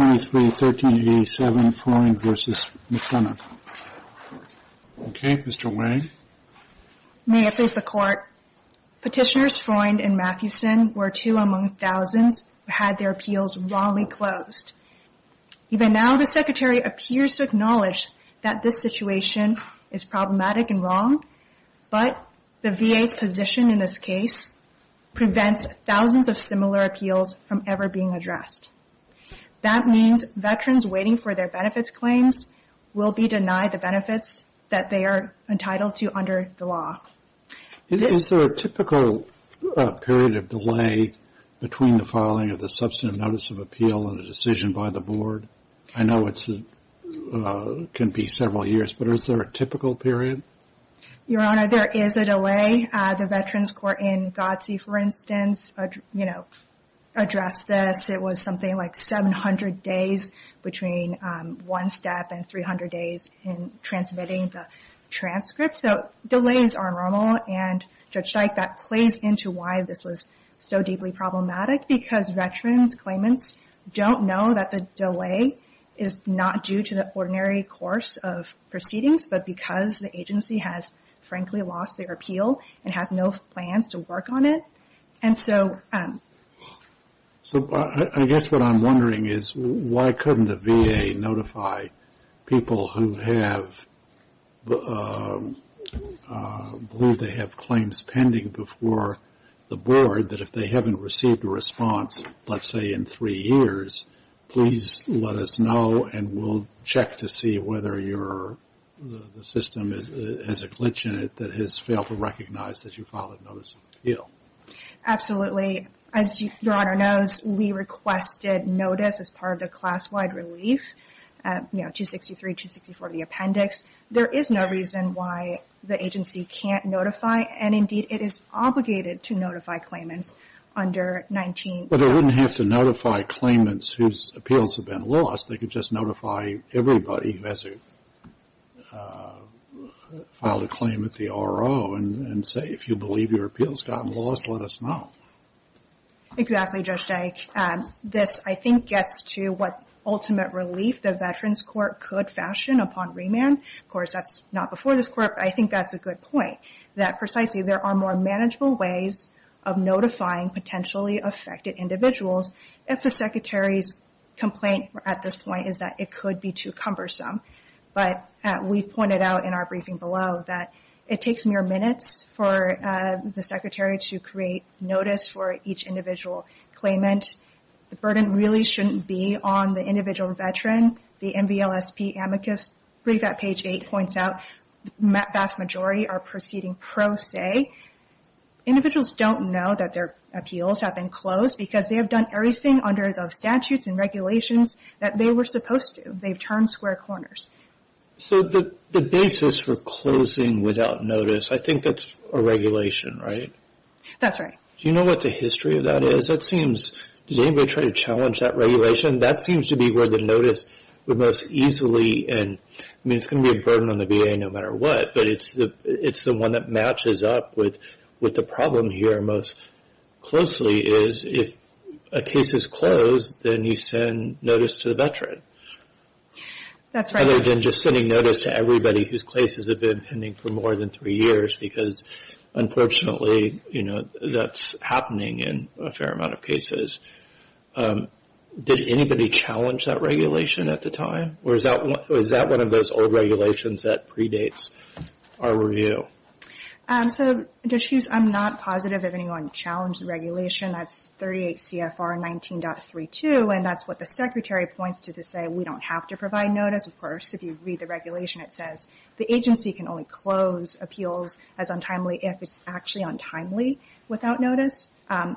May I please the Court? Petitioners Freund and Mathewson were two among thousands who had their appeals wrongly closed. Even now, the Secretary appears to acknowledge that this situation is problematic and wrong, but the VA's position in this case prevents thousands of similar appeals from ever being addressed. That means veterans waiting for their benefits claims will be denied the benefits that they are entitled to under the law. Is there a typical period of delay between the filing of the substantive notice of appeal and the decision by the Board? I know it can be several years, but is there a typical period? Your Honor, there is a delay. The Veterans Court in Godsey, for instance, you know, addressed this. It was something like 700 days between one step and 300 days in transmitting the transcript. So delays are normal and Judge Dyke, that plays into why this was so deeply problematic because veterans claimants don't know that the delay is not due to the ordinary course of proceedings, but because the agency has frankly lost their appeal and has no plans to work on it. And so I guess what I'm wondering is why couldn't a VA notify people who have, who they have claims pending before the Board that if they haven't received a response, let's say in three years, please let us know and we'll check to see whether the system has a glitch in it that has failed to recognize that you filed a notice of appeal. Absolutely. As Your Honor knows, we requested notice as part of the class-wide relief, you know, 263, 264, the appendix. There is no reason why the agency can't notify, and indeed it is obligated to notify claimants under 19. But they wouldn't have to notify claimants whose appeals have been lost. They could just notify everybody who has filed a claim with the RO and say, if you believe your appeal has gotten lost, let us know. Exactly, Judge Dyke. This, I think, gets to what ultimate relief the Veterans Court could fashion upon remand. Of course, that's not before this Court, but I think that's a good point, that precisely there are more manageable ways of notifying potentially affected individuals if the Secretary's complaint at this point is that it could be too cumbersome. But we've pointed out in our briefing below that it takes mere minutes for the Secretary to create notice for each individual claimant. The burden really shouldn't be on the individual Veteran. The MVLSP amicus brief at page 8 points out the vast majority are proceeding pro se. Individuals don't know that their appeals have been closed because they have done everything under the statutes and regulations that they were supposed to. They've turned square corners. The basis for closing without notice, I think that's a regulation, right? That's right. Do you know what the history of that is? Does anybody try to challenge that regulation? That seems to be where the notice would most easily, and it's going to be a burden on the VA no matter what, but it's the one that matches up with the problem here most closely is if a case is closed, then you send notice to the Veteran. That's right. Other than just sending notice to everybody whose cases have been pending for more than three years because, unfortunately, that's happening in a fair amount of cases. Did anybody challenge that regulation at the time, or is that one of those old regulations that predates our review? I'm not positive if anyone challenged the regulation. That's 38 CFR 19.32, and that's what the Secretary points to to say we don't have to provide notice. Of course, if you read the regulation, it says the agency can only close appeals as untimely if it's actually untimely without notice. I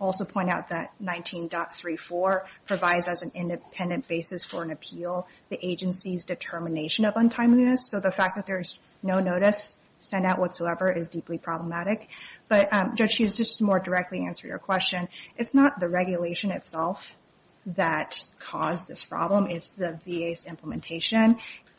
also point out that 19.34 provides as an independent basis for an appeal the agency's determination of untimeliness, so the fact that there's no notice sent out whatsoever is deeply problematic. Judge Hughes, just to more directly answer your question, it's not the regulation itself that caused this problem. It's the VA's implementation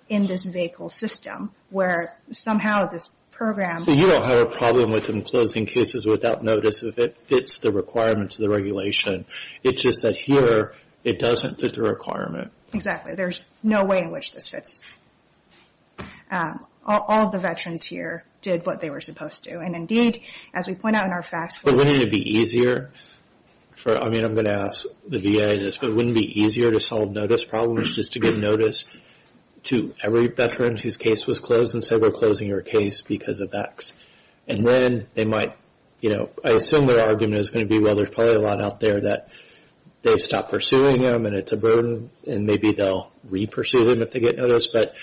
in this vehicle system where somehow this program... You don't have a problem with them closing cases without notice if it fits the requirements of the regulation. It's just that here, it doesn't fit the requirement. Exactly. There's no way in which this fits. All the veterans here did what they were supposed to, and indeed, as we point out in our FAFSA... Wouldn't it be easier for... I'm going to ask the VA this, but wouldn't it be easier to solve notice problems just to give notice to every veteran whose case was closed and say we're closing your case because of X? And then they might... I assume their argument is going to be, well, there's probably a lot out there that they've stopped pursuing them and it's a burden, and maybe they'll re-pursue them if they get notice, but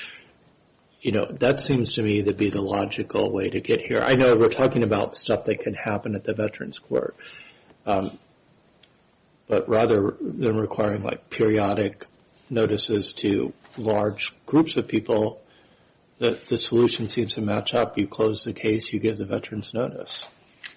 that seems to me to be the logical way to get here. I know we're talking about stuff that can happen at the Veterans Court, but rather than you close the case, you give the veterans notice.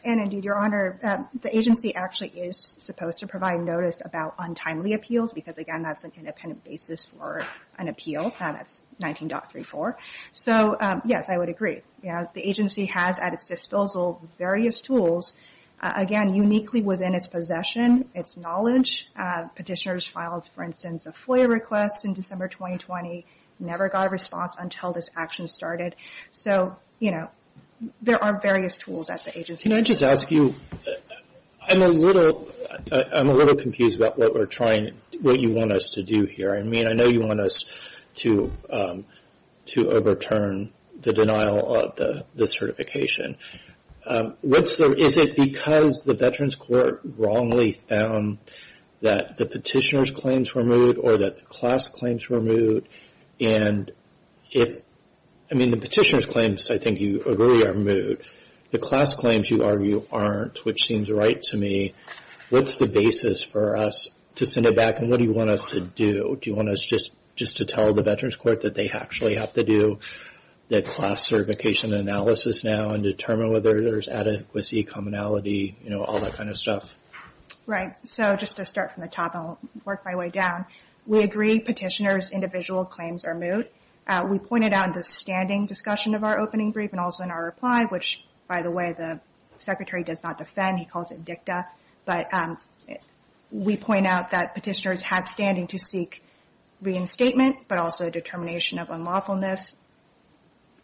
And indeed, Your Honor, the agency actually is supposed to provide notice about untimely appeals because, again, that's an independent basis for an appeal. That's 19.34. So yes, I would agree. The agency has at its disposal various tools, again, uniquely within its possession, its knowledge. Petitioners filed, for instance, a FOIA request in December 2020, never got a response until this action started. So, you know, there are various tools at the agency. Can I just ask you, I'm a little confused about what you want us to do here. I mean, I know you want us to overturn the denial of the certification. Is it because the Veterans Court wrongly found that the petitioner's claims were moot or that the class claims were moot? And if, I mean, the petitioner's claims, I think you agree are moot. The class claims, you argue, aren't, which seems right to me. What's the basis for us to send it back? And what do you want us to do? Do you want us just to tell the Veterans Court that they actually have to do that class certification analysis now and determine whether there's adequacy, commonality, all that kind of stuff? Right. So just to start from the top, I'll work my way down. We agree petitioners' individual claims are moot. We pointed out in the standing discussion of our opening brief and also in our reply, which, by the way, the Secretary does not defend. He calls it dicta. But we point out that petitioners have standing to seek reinstatement, but also a determination of unlawfulness.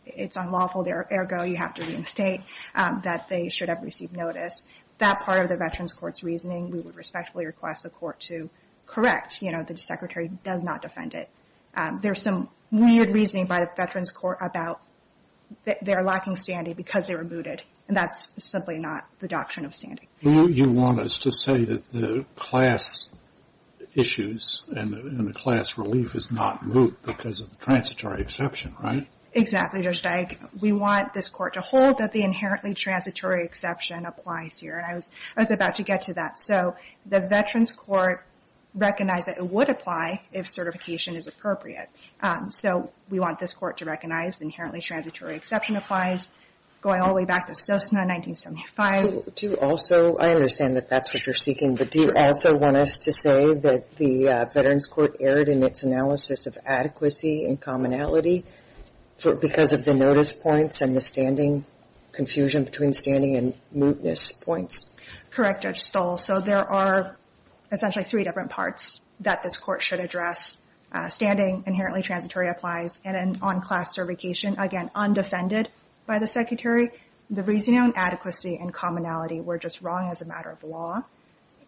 It's unlawful, ergo, you have to reinstate that they should receive notice. That part of the Veterans Court's reasoning, we would respectfully request the Court to correct. You know, the Secretary does not defend it. There's some weird reasoning by the Veterans Court about their lacking standing because they were mooted, and that's simply not the doctrine of standing. You want us to say that the class issues and the class relief is not moot because of the transitory exception, right? Exactly, Judge Dyke. We want this Court to hold that the inherently transitory exception applies here, and I was about to get to that. So the Veterans Court recognized that it would apply if certification is appropriate. So we want this Court to recognize inherently transitory exception applies, going all the way back to Sosna 1975. Do you also, I understand that that's what you're seeking, but do you also want us to say that the Veterans Court erred in its analysis of adequacy and commonality because of the notice points and confusion between standing and mootness points? Correct, Judge Stahl. So there are essentially three different parts that this Court should address. Standing, inherently transitory applies, and on class certification, again, undefended by the Secretary. The reasoning on adequacy and commonality were just wrong as a matter of law.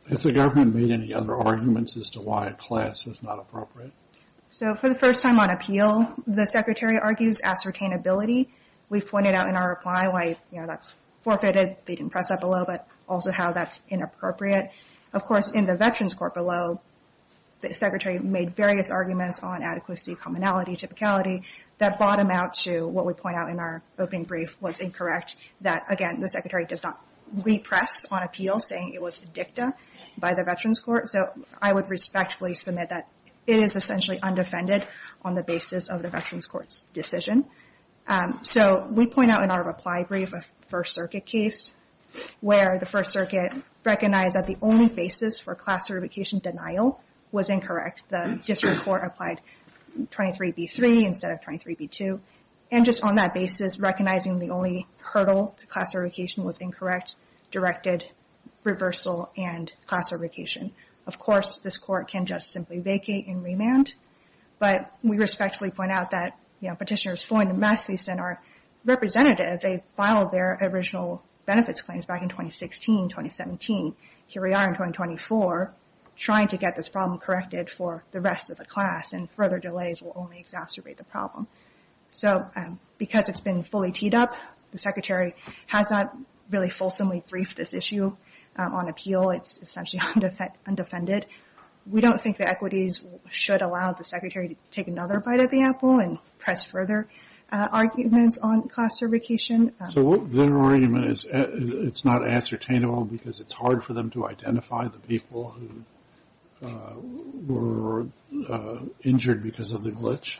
Has the Government made any other arguments as to why class is not appropriate? So for the first time on appeal, the Secretary argues ascertainability. We pointed out in our reply why, you know, that's forfeited. They didn't press that below, but also how that's inappropriate. Of course, in the Veterans Court below, the Secretary made various arguments on adequacy, commonality, typicality. That bottomed out to what we point out in our opening brief was incorrect, that, again, the Secretary does not repress on appeal, saying it was dicta by the Veterans Court. So I would respectfully submit that it is essentially undefended on the basis of the Veterans Court's decision. So we point out in our reply brief a First Circuit case where the First Circuit recognized that the only basis for class certification denial was incorrect. The District Court applied 23B3 instead of 23B2. And just on that basis, recognizing the only hurdle to class certification was incorrect, directed reversal and class certification. Of course, this Court can just simply vacate and remand, but we respectfully point out that, you know, Petitioners Foyn and Mathieson are representatives. They filed their original benefits claims back in 2016, 2017. Here we are in 2024 trying to get this problem corrected for the rest of the class, and further delays will only exacerbate the problem. So because it's been fully teed up, the Secretary has not really fulsomely briefed this issue on appeal. It's essentially undefended. We don't think the equities should allow the Secretary to take another bite of the apple and press further arguments on class certification. So their argument is it's not ascertainable because it's hard for them to identify the people who were injured because of the glitch?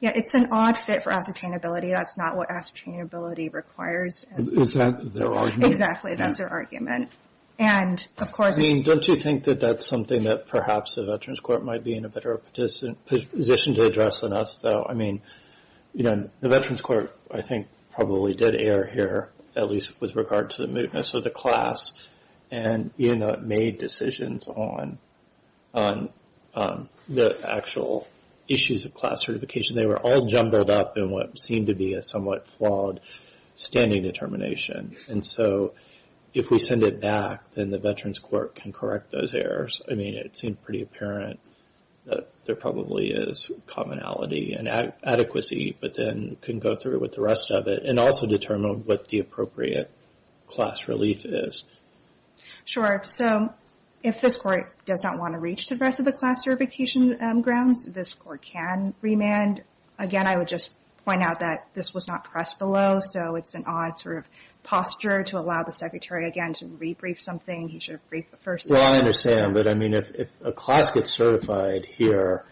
Yeah, it's an odd fit for ascertainability. That's not what ascertainability requires. Is that their argument? Exactly. That's their argument. And of course... I mean, don't you think that that's something that perhaps the Veterans Court might be in a better position to address than us, though? I mean, you know, the Veterans Court, I think, probably did err here, at least with regard to the mootness of the class. And even though it made decisions on the actual issues of class certification, they were all jumbled up in what seemed to be a somewhat flawed standing determination. And so if we send it back, then the Veterans Court can correct those errors. I mean, it seemed pretty apparent that there probably is commonality and adequacy, but then can go through with the rest of it and also determine what the appropriate class relief is. Sure. So if this Court does not want to reach the rest of the class certification grounds, this Court can remand. Again, I would just point out that this was not pressed below, so it's an odd sort of posture to allow the Secretary, again, to rebrief something. He should brief first. Well, I understand. But I mean, if a class gets certified here,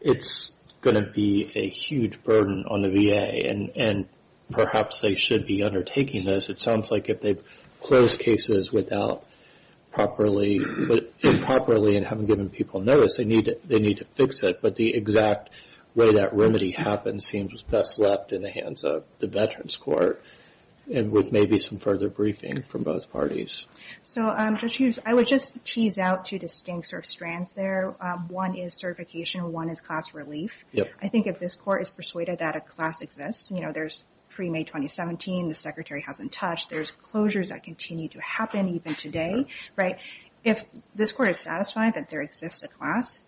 it's going to be a huge burden on the VA. And perhaps they should be undertaking this. It sounds like if they've closed cases without properly, but improperly and haven't given people notice, they need to fix it. But the exact way that remedy happens seems best left in the Veterans Court and with maybe some further briefing from both parties. So, Judge Hughes, I would just tease out two distinct sort of strands there. One is certification, one is class relief. I think if this Court is persuaded that a class exists, you know, there's pre-May 2017, the Secretary hasn't touched, there's closures that continue to happen even today, right? If this Court is satisfied that there exists a class,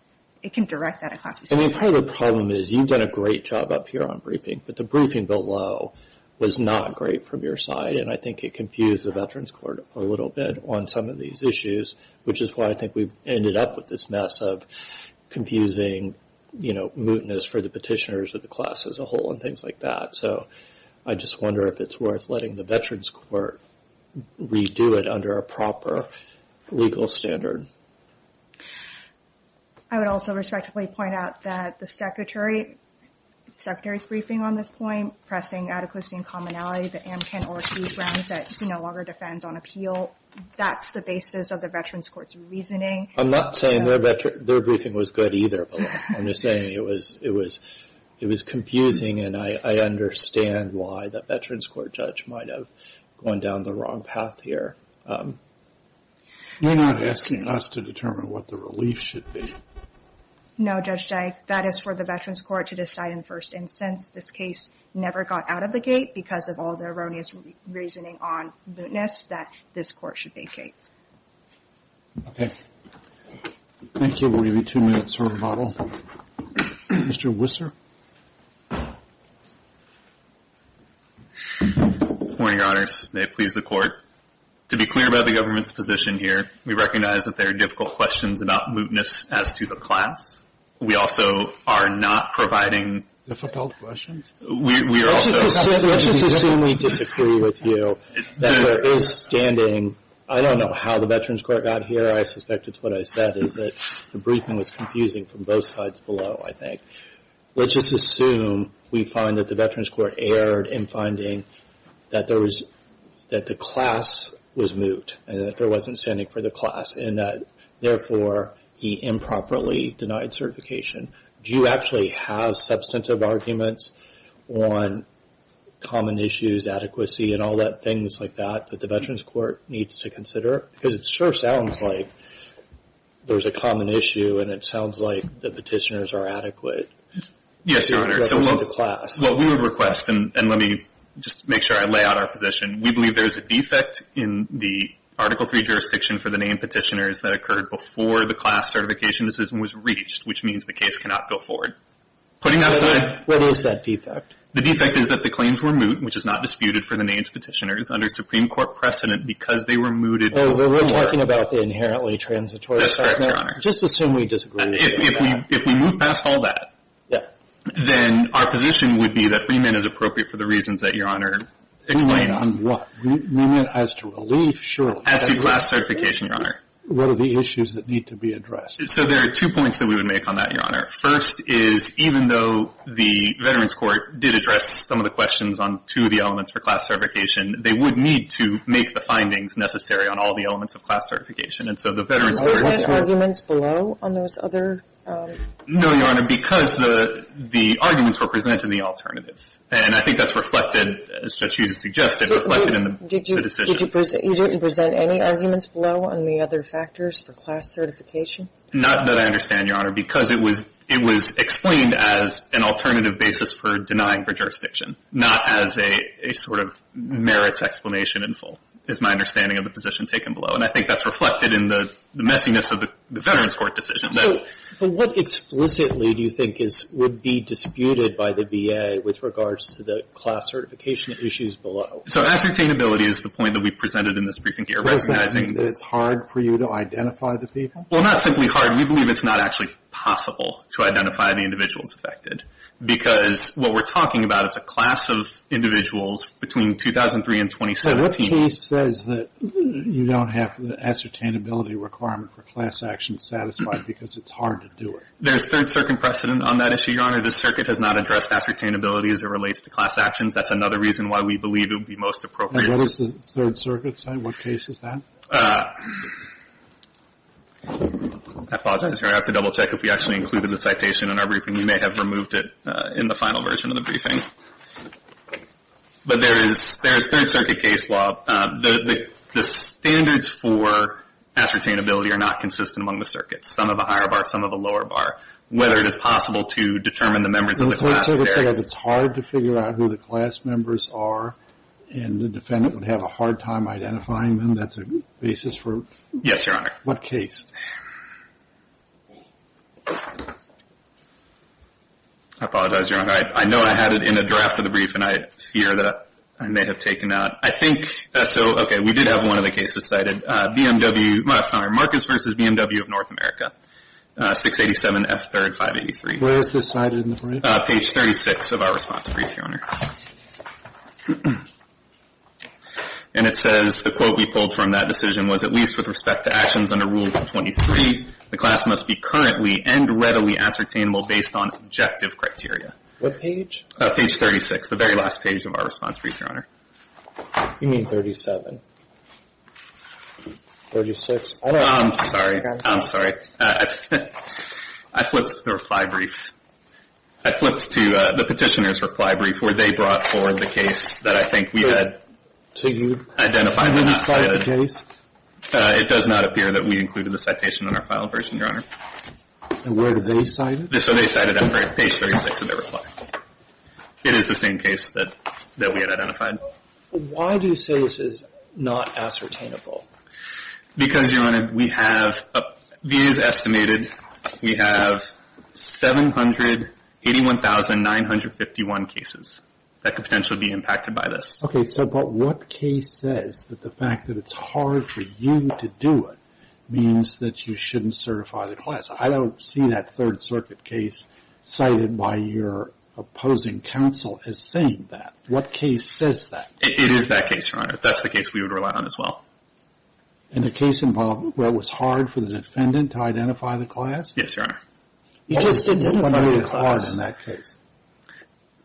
it can direct that a class. I mean, part of the problem is you've done a great job up here on briefing, but the briefing below was not great from your side. And I think it confused the Veterans Court a little bit on some of these issues, which is why I think we've ended up with this mess of confusing, you know, mootness for the petitioners of the class as a whole and things like that. So, I just wonder if it's worth letting the Veterans Court redo it under a proper legal standard. I would also respectfully point out that the Secretary's briefing on this point, pressing adequacy and commonality, the Amkin or Hughes grounds that he no longer defends on appeal, that's the basis of the Veterans Court's reasoning. I'm not saying their briefing was good either, but I'm just saying it was confusing and I understand why the Veterans Court judge might have gone down the wrong path here. You're not asking us to determine what the relief should be. No, Judge Dyke. That is for the Veterans Court to decide in first instance. This case never got out of the gate because of all the erroneous reasoning on mootness that this court should vacate. Okay. Thank you. We'll give you two minutes for rebuttal. Mr. Wisser. Good morning, Your Honors. May it please the Court. To be clear about the government's position here, we recognize that there are difficult questions about mootness as to the class. We also are not providing... Difficult questions? We are also... Let's just assume we disagree with you that there is standing... I don't know how the Veterans Court got here. I suspect it's what I said, is that the briefing was confusing from both sides below, I think. Let's just assume we find that the Veterans Court erred in finding that the class was moot and that there wasn't standing for the class and that therefore, he improperly denied certification. Do you actually have substantive arguments on common issues, adequacy, and all that things like that that the Veterans Court needs to the petitioners are adequate? Yes, Your Honor. In regards to the class. What we would request, and let me just make sure I lay out our position, we believe there is a defect in the Article III jurisdiction for the named petitioners that occurred before the class certification decision was reached, which means the case cannot go forward. Putting that aside... What is that defect? The defect is that the claims were moot, which is not disputed for the named petitioners under Supreme Court precedent because they were mooted before... We're talking about the inherently transitory statement. That's correct, Your Honor. Just assume we disagree with you. If we move past all that, then our position would be that remand is appropriate for the reasons that Your Honor explained. Remand on what? Remand as to relief? Sure. As to class certification, Your Honor. What are the issues that need to be addressed? So there are two points that we would make on that, Your Honor. First is even though the Veterans Court did address some of the questions on two of the elements for class certification, they would need to make the findings necessary on all the elements of class certification. And so the Veterans Court... Did you present any arguments below on those other... No, Your Honor, because the arguments were presented in the alternative. And I think that's reflected, as Judge Hughes suggested, reflected in the decision. You didn't present any arguments below on the other factors for class certification? Not that I understand, Your Honor, because it was explained as an alternative basis for denying for jurisdiction, not as a sort of merits explanation in full, is my understanding of the position taken below. And I think that's reflected in the messiness of the Veterans Court decision. So what explicitly do you think would be disputed by the VA with regards to the class certification issues below? So ascertainability is the point that we presented in this briefing here. Was that saying that it's hard for you to identify the people? Well, not simply hard. We believe it's not actually possible to identify the individuals affected because what we're talking about, it's a class of individuals between 2003 and 2017. What case says that you don't have the ascertainability requirement for class actions satisfied because it's hard to do it? There's third circuit precedent on that issue, Your Honor. This circuit has not addressed ascertainability as it relates to class actions. That's another reason why we believe it would be most appropriate to... And what does the third circuit say? What case is that? I apologize, Your Honor. I have to double check if we actually included the citation in our briefing. You may have removed it in the final version of the briefing. But there is third circuit case law. The standards for ascertainability are not consistent among the circuits, some of the higher bar, some of the lower bar. Whether it is possible to determine the members of the class there is... So the third circuit says it's hard to figure out who the class members are and the defendant would have a hard time identifying them. That's a basis for... Yes, Your Honor. What case? I apologize, Your Honor. I know I had it in a draft of the brief and I fear that I may have taken that. I think... So, okay, we did have one of the cases cited. BMW... I'm sorry, Marcus v. BMW of North America, 687 F3rd 583. Where is this cited in the brief? Page 36 of our response brief, Your Honor. And it says the quote we pulled from that decision was, at least with respect to Rule 23, the class must be currently and readily ascertainable based on objective criteria. What page? Page 36, the very last page of our response brief, Your Honor. You mean 37? 36? I'm sorry. I'm sorry. I flipped to the reply brief. I flipped to the Petitioner's reply brief where they brought forward the case that I think we had identified and not cited. So you didn't cite the case? It does not appear that we included the citation in our file version, Your Honor. And where do they cite it? So they cite it on page 36 of their reply. It is the same case that we had identified. Why do you say this is not ascertainable? Because, Your Honor, we have... These estimated... We have 781,951 cases that could potentially be impacted by this. Okay. So but what case says that the fact that it's hard for you to do it means that you shouldn't certify the class? I don't see that Third Circuit case cited by your opposing counsel as saying that. What case says that? It is that case, Your Honor. That's the case we would rely on as well. And the case involved where it was hard for the defendant to identify the class? Yes, Your Honor. He just didn't identify the class in that case.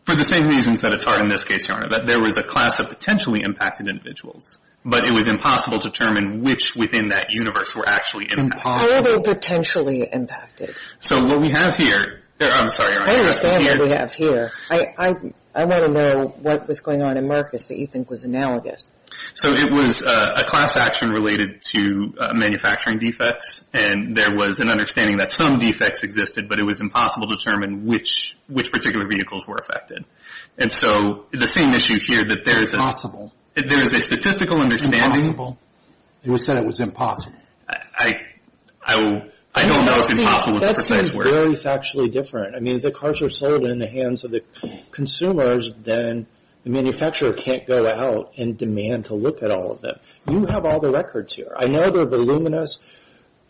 For the same reasons that it's hard in this case, Your Honor. That there was a class of potentially impacted individuals, but it was impossible to determine which within that universe were actually impacted. How were they potentially impacted? So what we have here... I'm sorry, Your Honor. I understand what we have here. I want to know what was going on in Marcus that you think was analogous. So it was a class action related to manufacturing defects, and there was an understanding that some defects existed, but it was impossible to determine which particular vehicles were impacted. Impossible. There was a statistical understanding. Impossible. It was said it was impossible. I don't know if impossible is the precise word. That seems very factually different. I mean, if the cars are sold in the hands of the consumers, then the manufacturer can't go out and demand to look at all of them. You have all the records here. I know they're voluminous.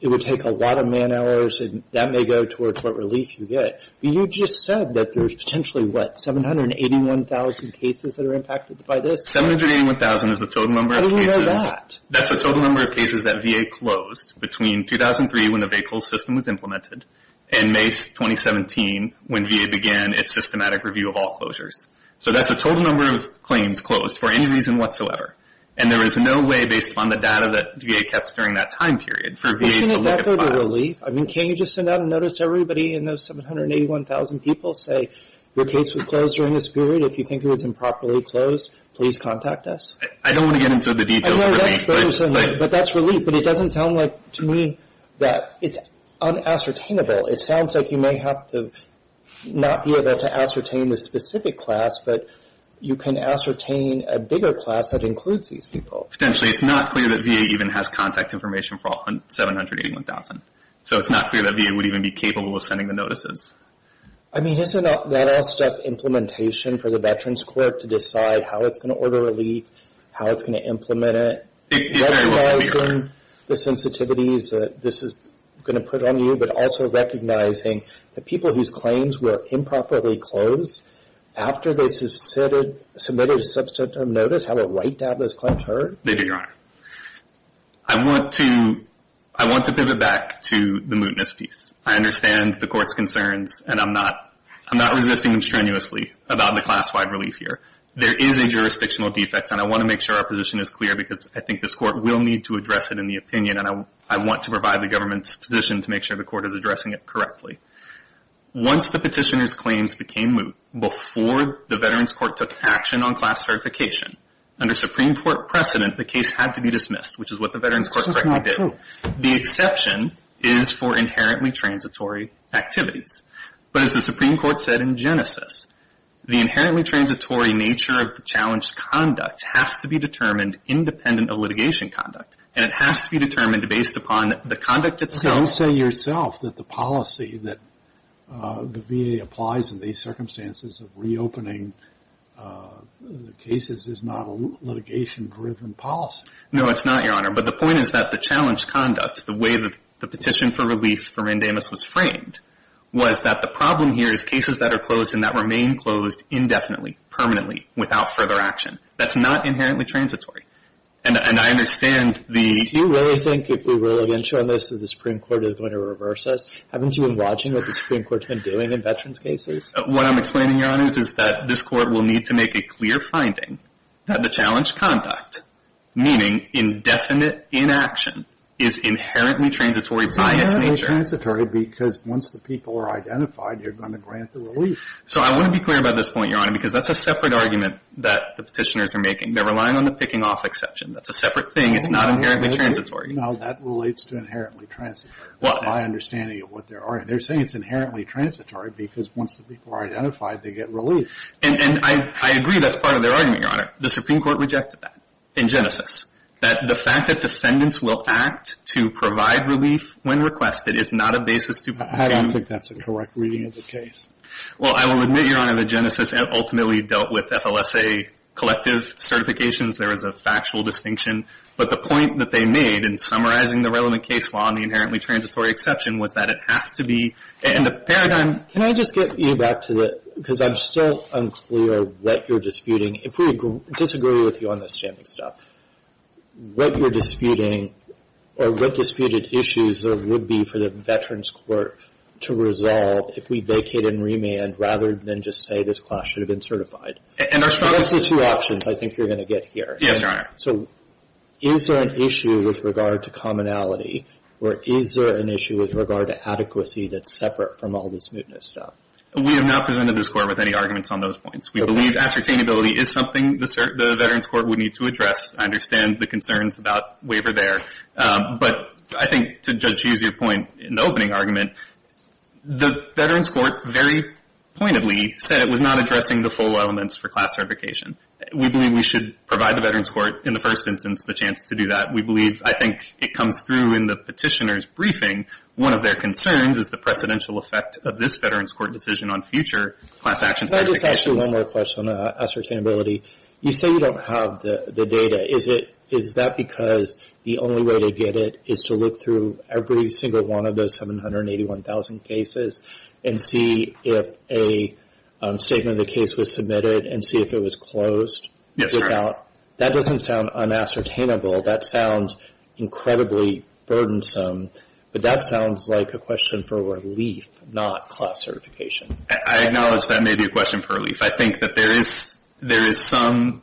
It would take a lot of man hours, and that may go towards what relief you get. But you just said that there's potentially, what, 781,000 cases that are impacted by this? 781,000 is the total number of cases... How do you know that? That's the total number of cases that VA closed between 2003 when the vehicle system was implemented and May 2017 when VA began its systematic review of all closures. So that's the total number of claims closed for any reason whatsoever, and there is no way based on the data that VA kept during that time period for VA to look at five. But shouldn't that go to relief? I mean, can't you just send out a notice to everybody and those 781,000 people say, your case was closed during this period. If you think it was improperly closed, please contact us. I don't want to get into the details of relief, but... But that's relief. But it doesn't sound like, to me, that it's unassertainable. It sounds like you may have to not be able to ascertain the specific class, but you can ascertain a bigger class that includes these people. Potentially. It's not clear that VA even has contact information for all 781,000. So it's not clear that VA would even be capable of sending the notices. I mean, isn't that all stuff implementation for the Veterans Court to decide how it's going to order relief, how it's going to implement it? Recognizing the sensitivities that this is going to put on you, but also recognizing the people whose claims were improperly closed after they submitted a substantive notice, have it right to have those claims heard? They do, Your Honor. I want to pivot back to the mootness piece. I understand the Court's concerns, and I'm not resisting them strenuously about the class-wide relief here. There is a jurisdictional defect, and I want to make sure our position is clear because I think this Court will need to address it in the opinion, and I want to provide the Government's position to make sure the Court is addressing it correctly. Once the petitioner's claims became moot, before the Veterans Court took action on class certification, under Supreme Court precedent, the case had to be dismissed, which is what the Veterans Court correctly did. That's not true. The exception is for inherently transitory activities. But as the Supreme Court said in Genesis, the inherently transitory nature of the challenged conduct has to be determined independent of litigation conduct, and it has to be determined based upon the conduct itself. You say yourself that the policy that the VA applies in these circumstances of reopening the cases is not a litigation-driven policy. No, it's not, Your Honor. But the point is that the challenged conduct, the way that the petition for relief for Randamus was framed, was that the problem here is cases that are closed and that remain closed indefinitely, permanently, without further action. That's not inherently transitory. And I understand the — Do you really think, if we're really going to show this, that the Supreme Court is going to reverse this? Haven't you been watching what the Supreme Court's been doing in Veterans cases? What I'm explaining, Your Honors, is that this Court will need to make a clear finding that the challenged conduct, meaning indefinite inaction, is inherently transitory by its nature. Inherently transitory because once the people are identified, you're going to grant the relief. So I want to be clear about this point, Your Honor, because that's a separate argument that the petitioners are making. They're relying on the picking-off exception. That's a separate thing. It's not inherently transitory. No, that relates to inherently transitory, by understanding what they're — they're saying it's inherently transitory because once the people are identified, they get relief. And — and I — I agree that's part of their argument, Your Honor. The Supreme Court rejected that in Genesis, that the fact that defendants will act to provide relief when requested is not a basis to — I don't think that's a correct reading of the case. Well, I will admit, Your Honor, that Genesis ultimately dealt with FLSA collective certifications. There is a factual distinction. But the point that they made in summarizing the relevant case law and the inherently transitory exception was that it has to be — and the paradigm — Can I just get you back to the — because I'm still unclear what you're disputing. If we disagree with you on this standing stuff, what you're disputing or what disputed issues there would be for the Veterans Court to resolve if we vacate and remand rather than just say this class should have been certified? And our strong — What's the two options I think you're going to get here? Yes, Your Honor. So is there an issue with regard to commonality or is there an issue with regard to adequacy that's separate from all this mootness stuff? We have not presented this Court with any arguments on those points. We believe ascertainability is something the Veterans Court would need to address. I understand the concerns about waiver there. But I think to Judge Hughes' point in the opening argument, the Veterans Court very pointedly said it was not addressing the full elements for class certification. We believe we should provide the Veterans Court, in the first instance, the chance to do that. We believe — I think it comes through in the petitioner's briefing. One of their concerns is the precedential effect of this Veterans Court decision on future class action certifications. Can I just ask you one more question on ascertainability? You say you don't have the data. Is it — is that because the only way to get it is to look through every single one of those 781,000 cases and see if a statement of the case was submitted and see if it was closed? Yes, sir. Without — that doesn't sound unascertainable. That sounds incredibly burdensome. But that sounds like a question for relief, not class certification. I acknowledge that may be a question for relief. I think that there is — there is some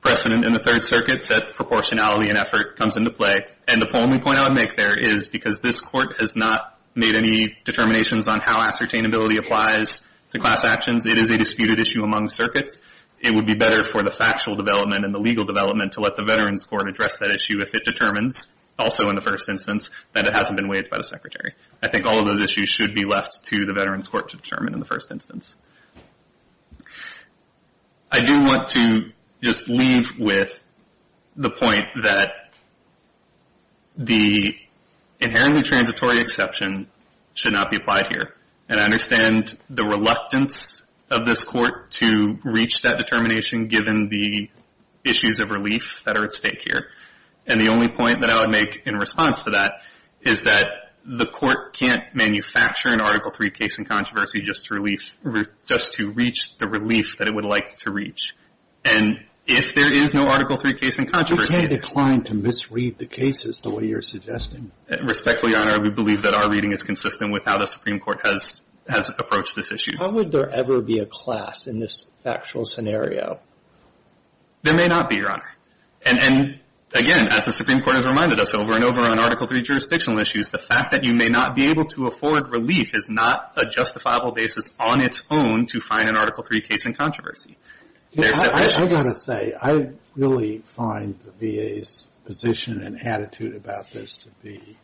precedent in the Third Circuit that proportionality and effort comes into play. And the only point I would make there is because this Court has not made any determinations on how ascertainability applies to class actions, it is a disputed issue among circuits. It would be better for the factual development and the legal development to let the Veterans Court address that issue if it determines, also in the first instance, that it hasn't been waived by the Secretary. I think all of those issues should be left to the Veterans Court to determine in the first instance. I do want to just leave with the point that the inherently transitory exception should not be applied here. And I understand the reluctance of this Court to reach that determination given the issues of relief that are at stake here. And the only point that I would make in response to that is that the Court can't manufacture an Article III case in controversy just to relief — just to reach the relief that it would like to reach. And if there is no Article III case in controversy — You can't decline to misread the cases the way you're suggesting. Respectfully, Your Honor, we believe that our reading is consistent with how the Supreme Court has approached this issue. How would there ever be a class in this factual scenario? There may not be, Your Honor. And again, as the Supreme Court has reminded us over and over on Article III jurisdictional issues, the fact that you may not be able to afford relief is not a justifiable basis on its own to find an Article III case in controversy. I've got to say, I really find the VA's position and attitude about this to be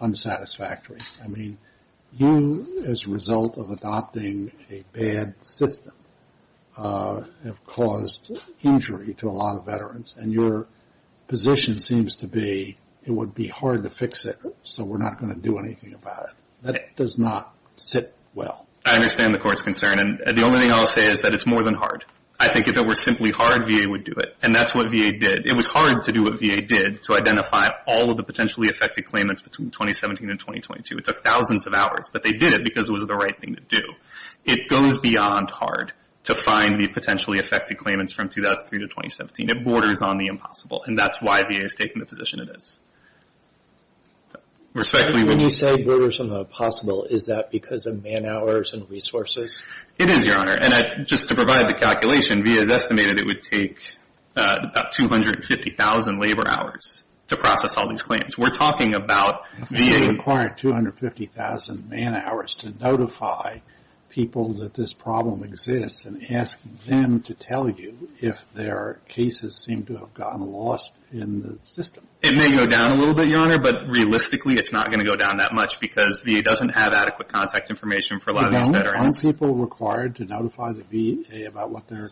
unsatisfactory. I mean, you, as a result of adopting a bad system, have caused injury to a lot of veterans. And your position seems to be it would be hard to fix it, so we're not going to do anything about it. That does not sit well. I understand the Court's concern. And the only thing I'll say is that it's more than hard. I think if it were simply hard, VA would do it. And that's what VA did. It was hard to do what VA did to identify all of the potentially affected claimants between 2017 and 2022. It took thousands of hours, but they did it because it was the right thing to do. It goes beyond hard to find the potentially affected claimants from 2003 to 2017. It borders on the impossible. And that's why VA has taken the position it is. Respectfully, Your Honor. When you say borders on the impossible, is that because of man hours and resources? It is, Your Honor. And just to provide the calculation, VA has estimated it would take about 250,000 labor hours to process all these claims. We're talking about VA... It would require 250,000 man hours to notify people that this problem exists and ask them to tell you if their cases seem to have gotten lost in the system. It may go down a little bit, Your Honor, but realistically, it's not going to go down that much because VA doesn't have adequate contact information for a lot of these veterans. Aren't people required to notify the VA about what their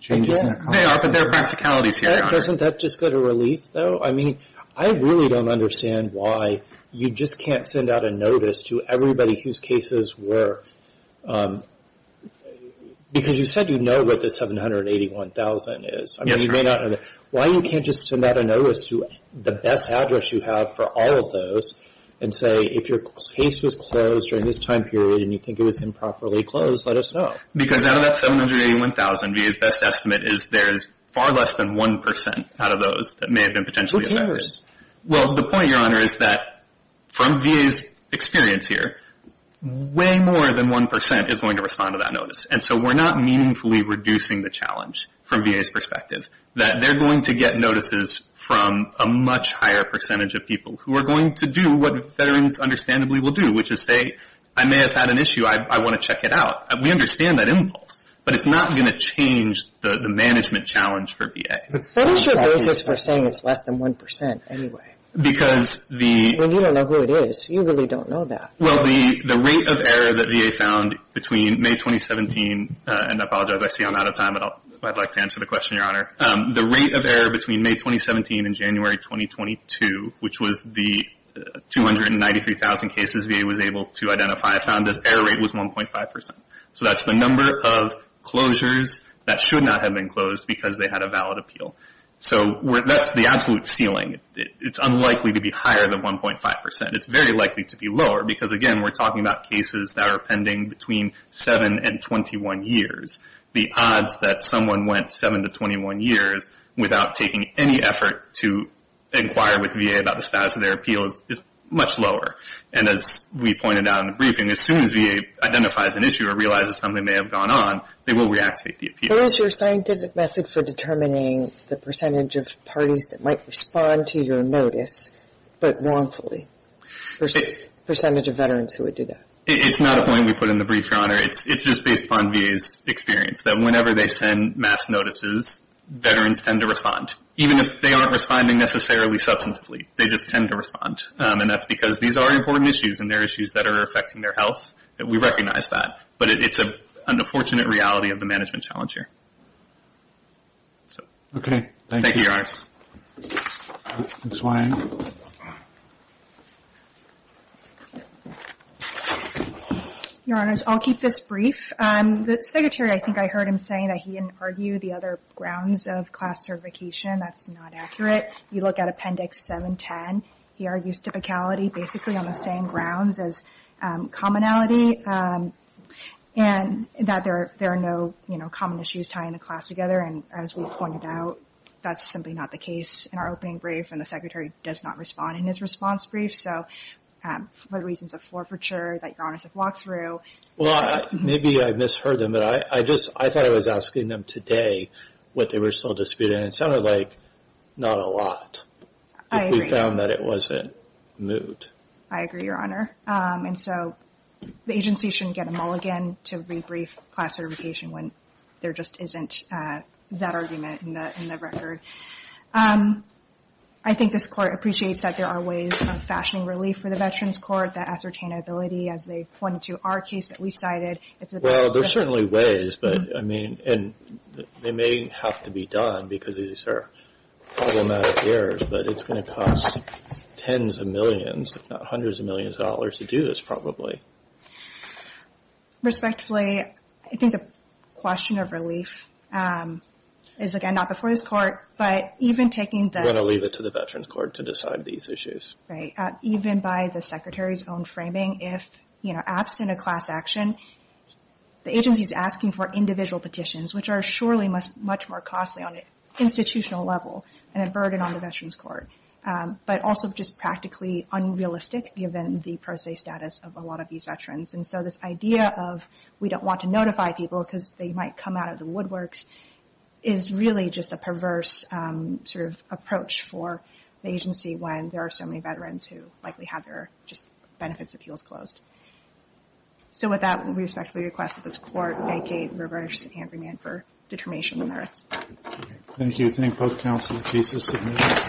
changes are? They are, but there are practicalities here, Your Honor. Doesn't that just go to relief, though? I mean, I really don't understand why you just can't send out a notice to everybody whose cases were... Because you said you know what the 781,000 is. Yes, Your Honor. Why you can't just send out a notice to the best address you have for all of those and say, if your case was closed during this time period and you think it was improperly closed, let us know. Because out of that 781,000, VA's best estimate is there's far less than 1% out of those that may have been potentially affected. Who cares? Well, the point, Your Honor, is that from VA's experience here, way more than 1% is going to respond to that notice, and so we're not meaningfully reducing the challenge from VA's perspective, that they're going to get notices from a much higher percentage of people who are going to do what veterans understandably will do, which is say, I may have had an issue, I want to check it out. We understand that impulse, but it's not going to change the management challenge for VA. What is your basis for saying it's less than 1% anyway? Because the... Well, you don't know who it is. You really don't know that. Well, the rate of error that VA found between May 2017, and I apologize, I see I'm out of time, but I'd like to answer the question, Your Honor. The rate of error rate was 1.5%. So that's the number of closures that should not have been closed because they had a valid appeal. So that's the absolute ceiling. It's unlikely to be higher than 1.5%. It's very likely to be lower, because again, we're talking about cases that are pending between 7 and 21 years. The odds that someone went 7 to 21 years without taking any effort to inquire with VA about the status of their appeal is much lower. And as we pointed out in the briefing, as soon as VA identifies an issue or realizes something may have gone on, they will reactivate the appeal. What is your scientific method for determining the percentage of parties that might respond to your notice, but wrongfully? The percentage of Veterans who would do that? It's not a point we put in the brief, Your Honor. It's just based upon VA's experience that whenever they send mass notices, Veterans tend to respond, even if they aren't responding necessarily substantively. They just tend to respond. And that's because these are important issues, and they're issues that are affecting their health. We recognize that. But it's an unfortunate reality of the management challenge here. Okay. Thank you, Your Honors. Your Honors, I'll keep this brief. The Secretary, I think I heard him saying that he didn't argue the other grounds of class certification. That's not typicality, basically on the same grounds as commonality. And that there are no common issues tying the class together. And as we pointed out, that's simply not the case in our opening brief. And the Secretary does not respond in his response brief. So for the reasons of forfeiture that Your Honors have walked through. Well, maybe I misheard them. But I thought I was asking them today what they were still disputing. And it sounded like not a lot. I agree. I found that it wasn't moot. I agree, Your Honor. And so the agency shouldn't get a mulligan to rebrief class certification when there just isn't that argument in the record. I think this Court appreciates that there are ways of fashioning relief for the Veterans Court. That ascertainability, as they pointed to our case that we cited. Well, there's certainly ways. But, I mean, and they may have to be done because these are problematic errors. But it's going to cost tens of millions, if not hundreds of millions of dollars to do this, probably. Respectfully, I think the question of relief is, again, not before this Court. But even taking the... We're going to leave it to the Veterans Court to decide these issues. Right. Even by the Secretary's own framing, if, you know, absent a class action, the agency is asking for individual petitions, which are surely much more costly on an institutional level and a burden on the Veterans Court. But also just practically unrealistic, given the pro se status of a lot of these veterans. And so this idea of we don't want to notify people because they might come out of the woodworks is really just a perverse sort of approach for the agency when there are so many veterans who likely have their just benefits appeals closed. So with that, we respectfully request that this Court vacate reverse and hand remand for determination of merits. Thank you. Thank both counsel. The case is submitted.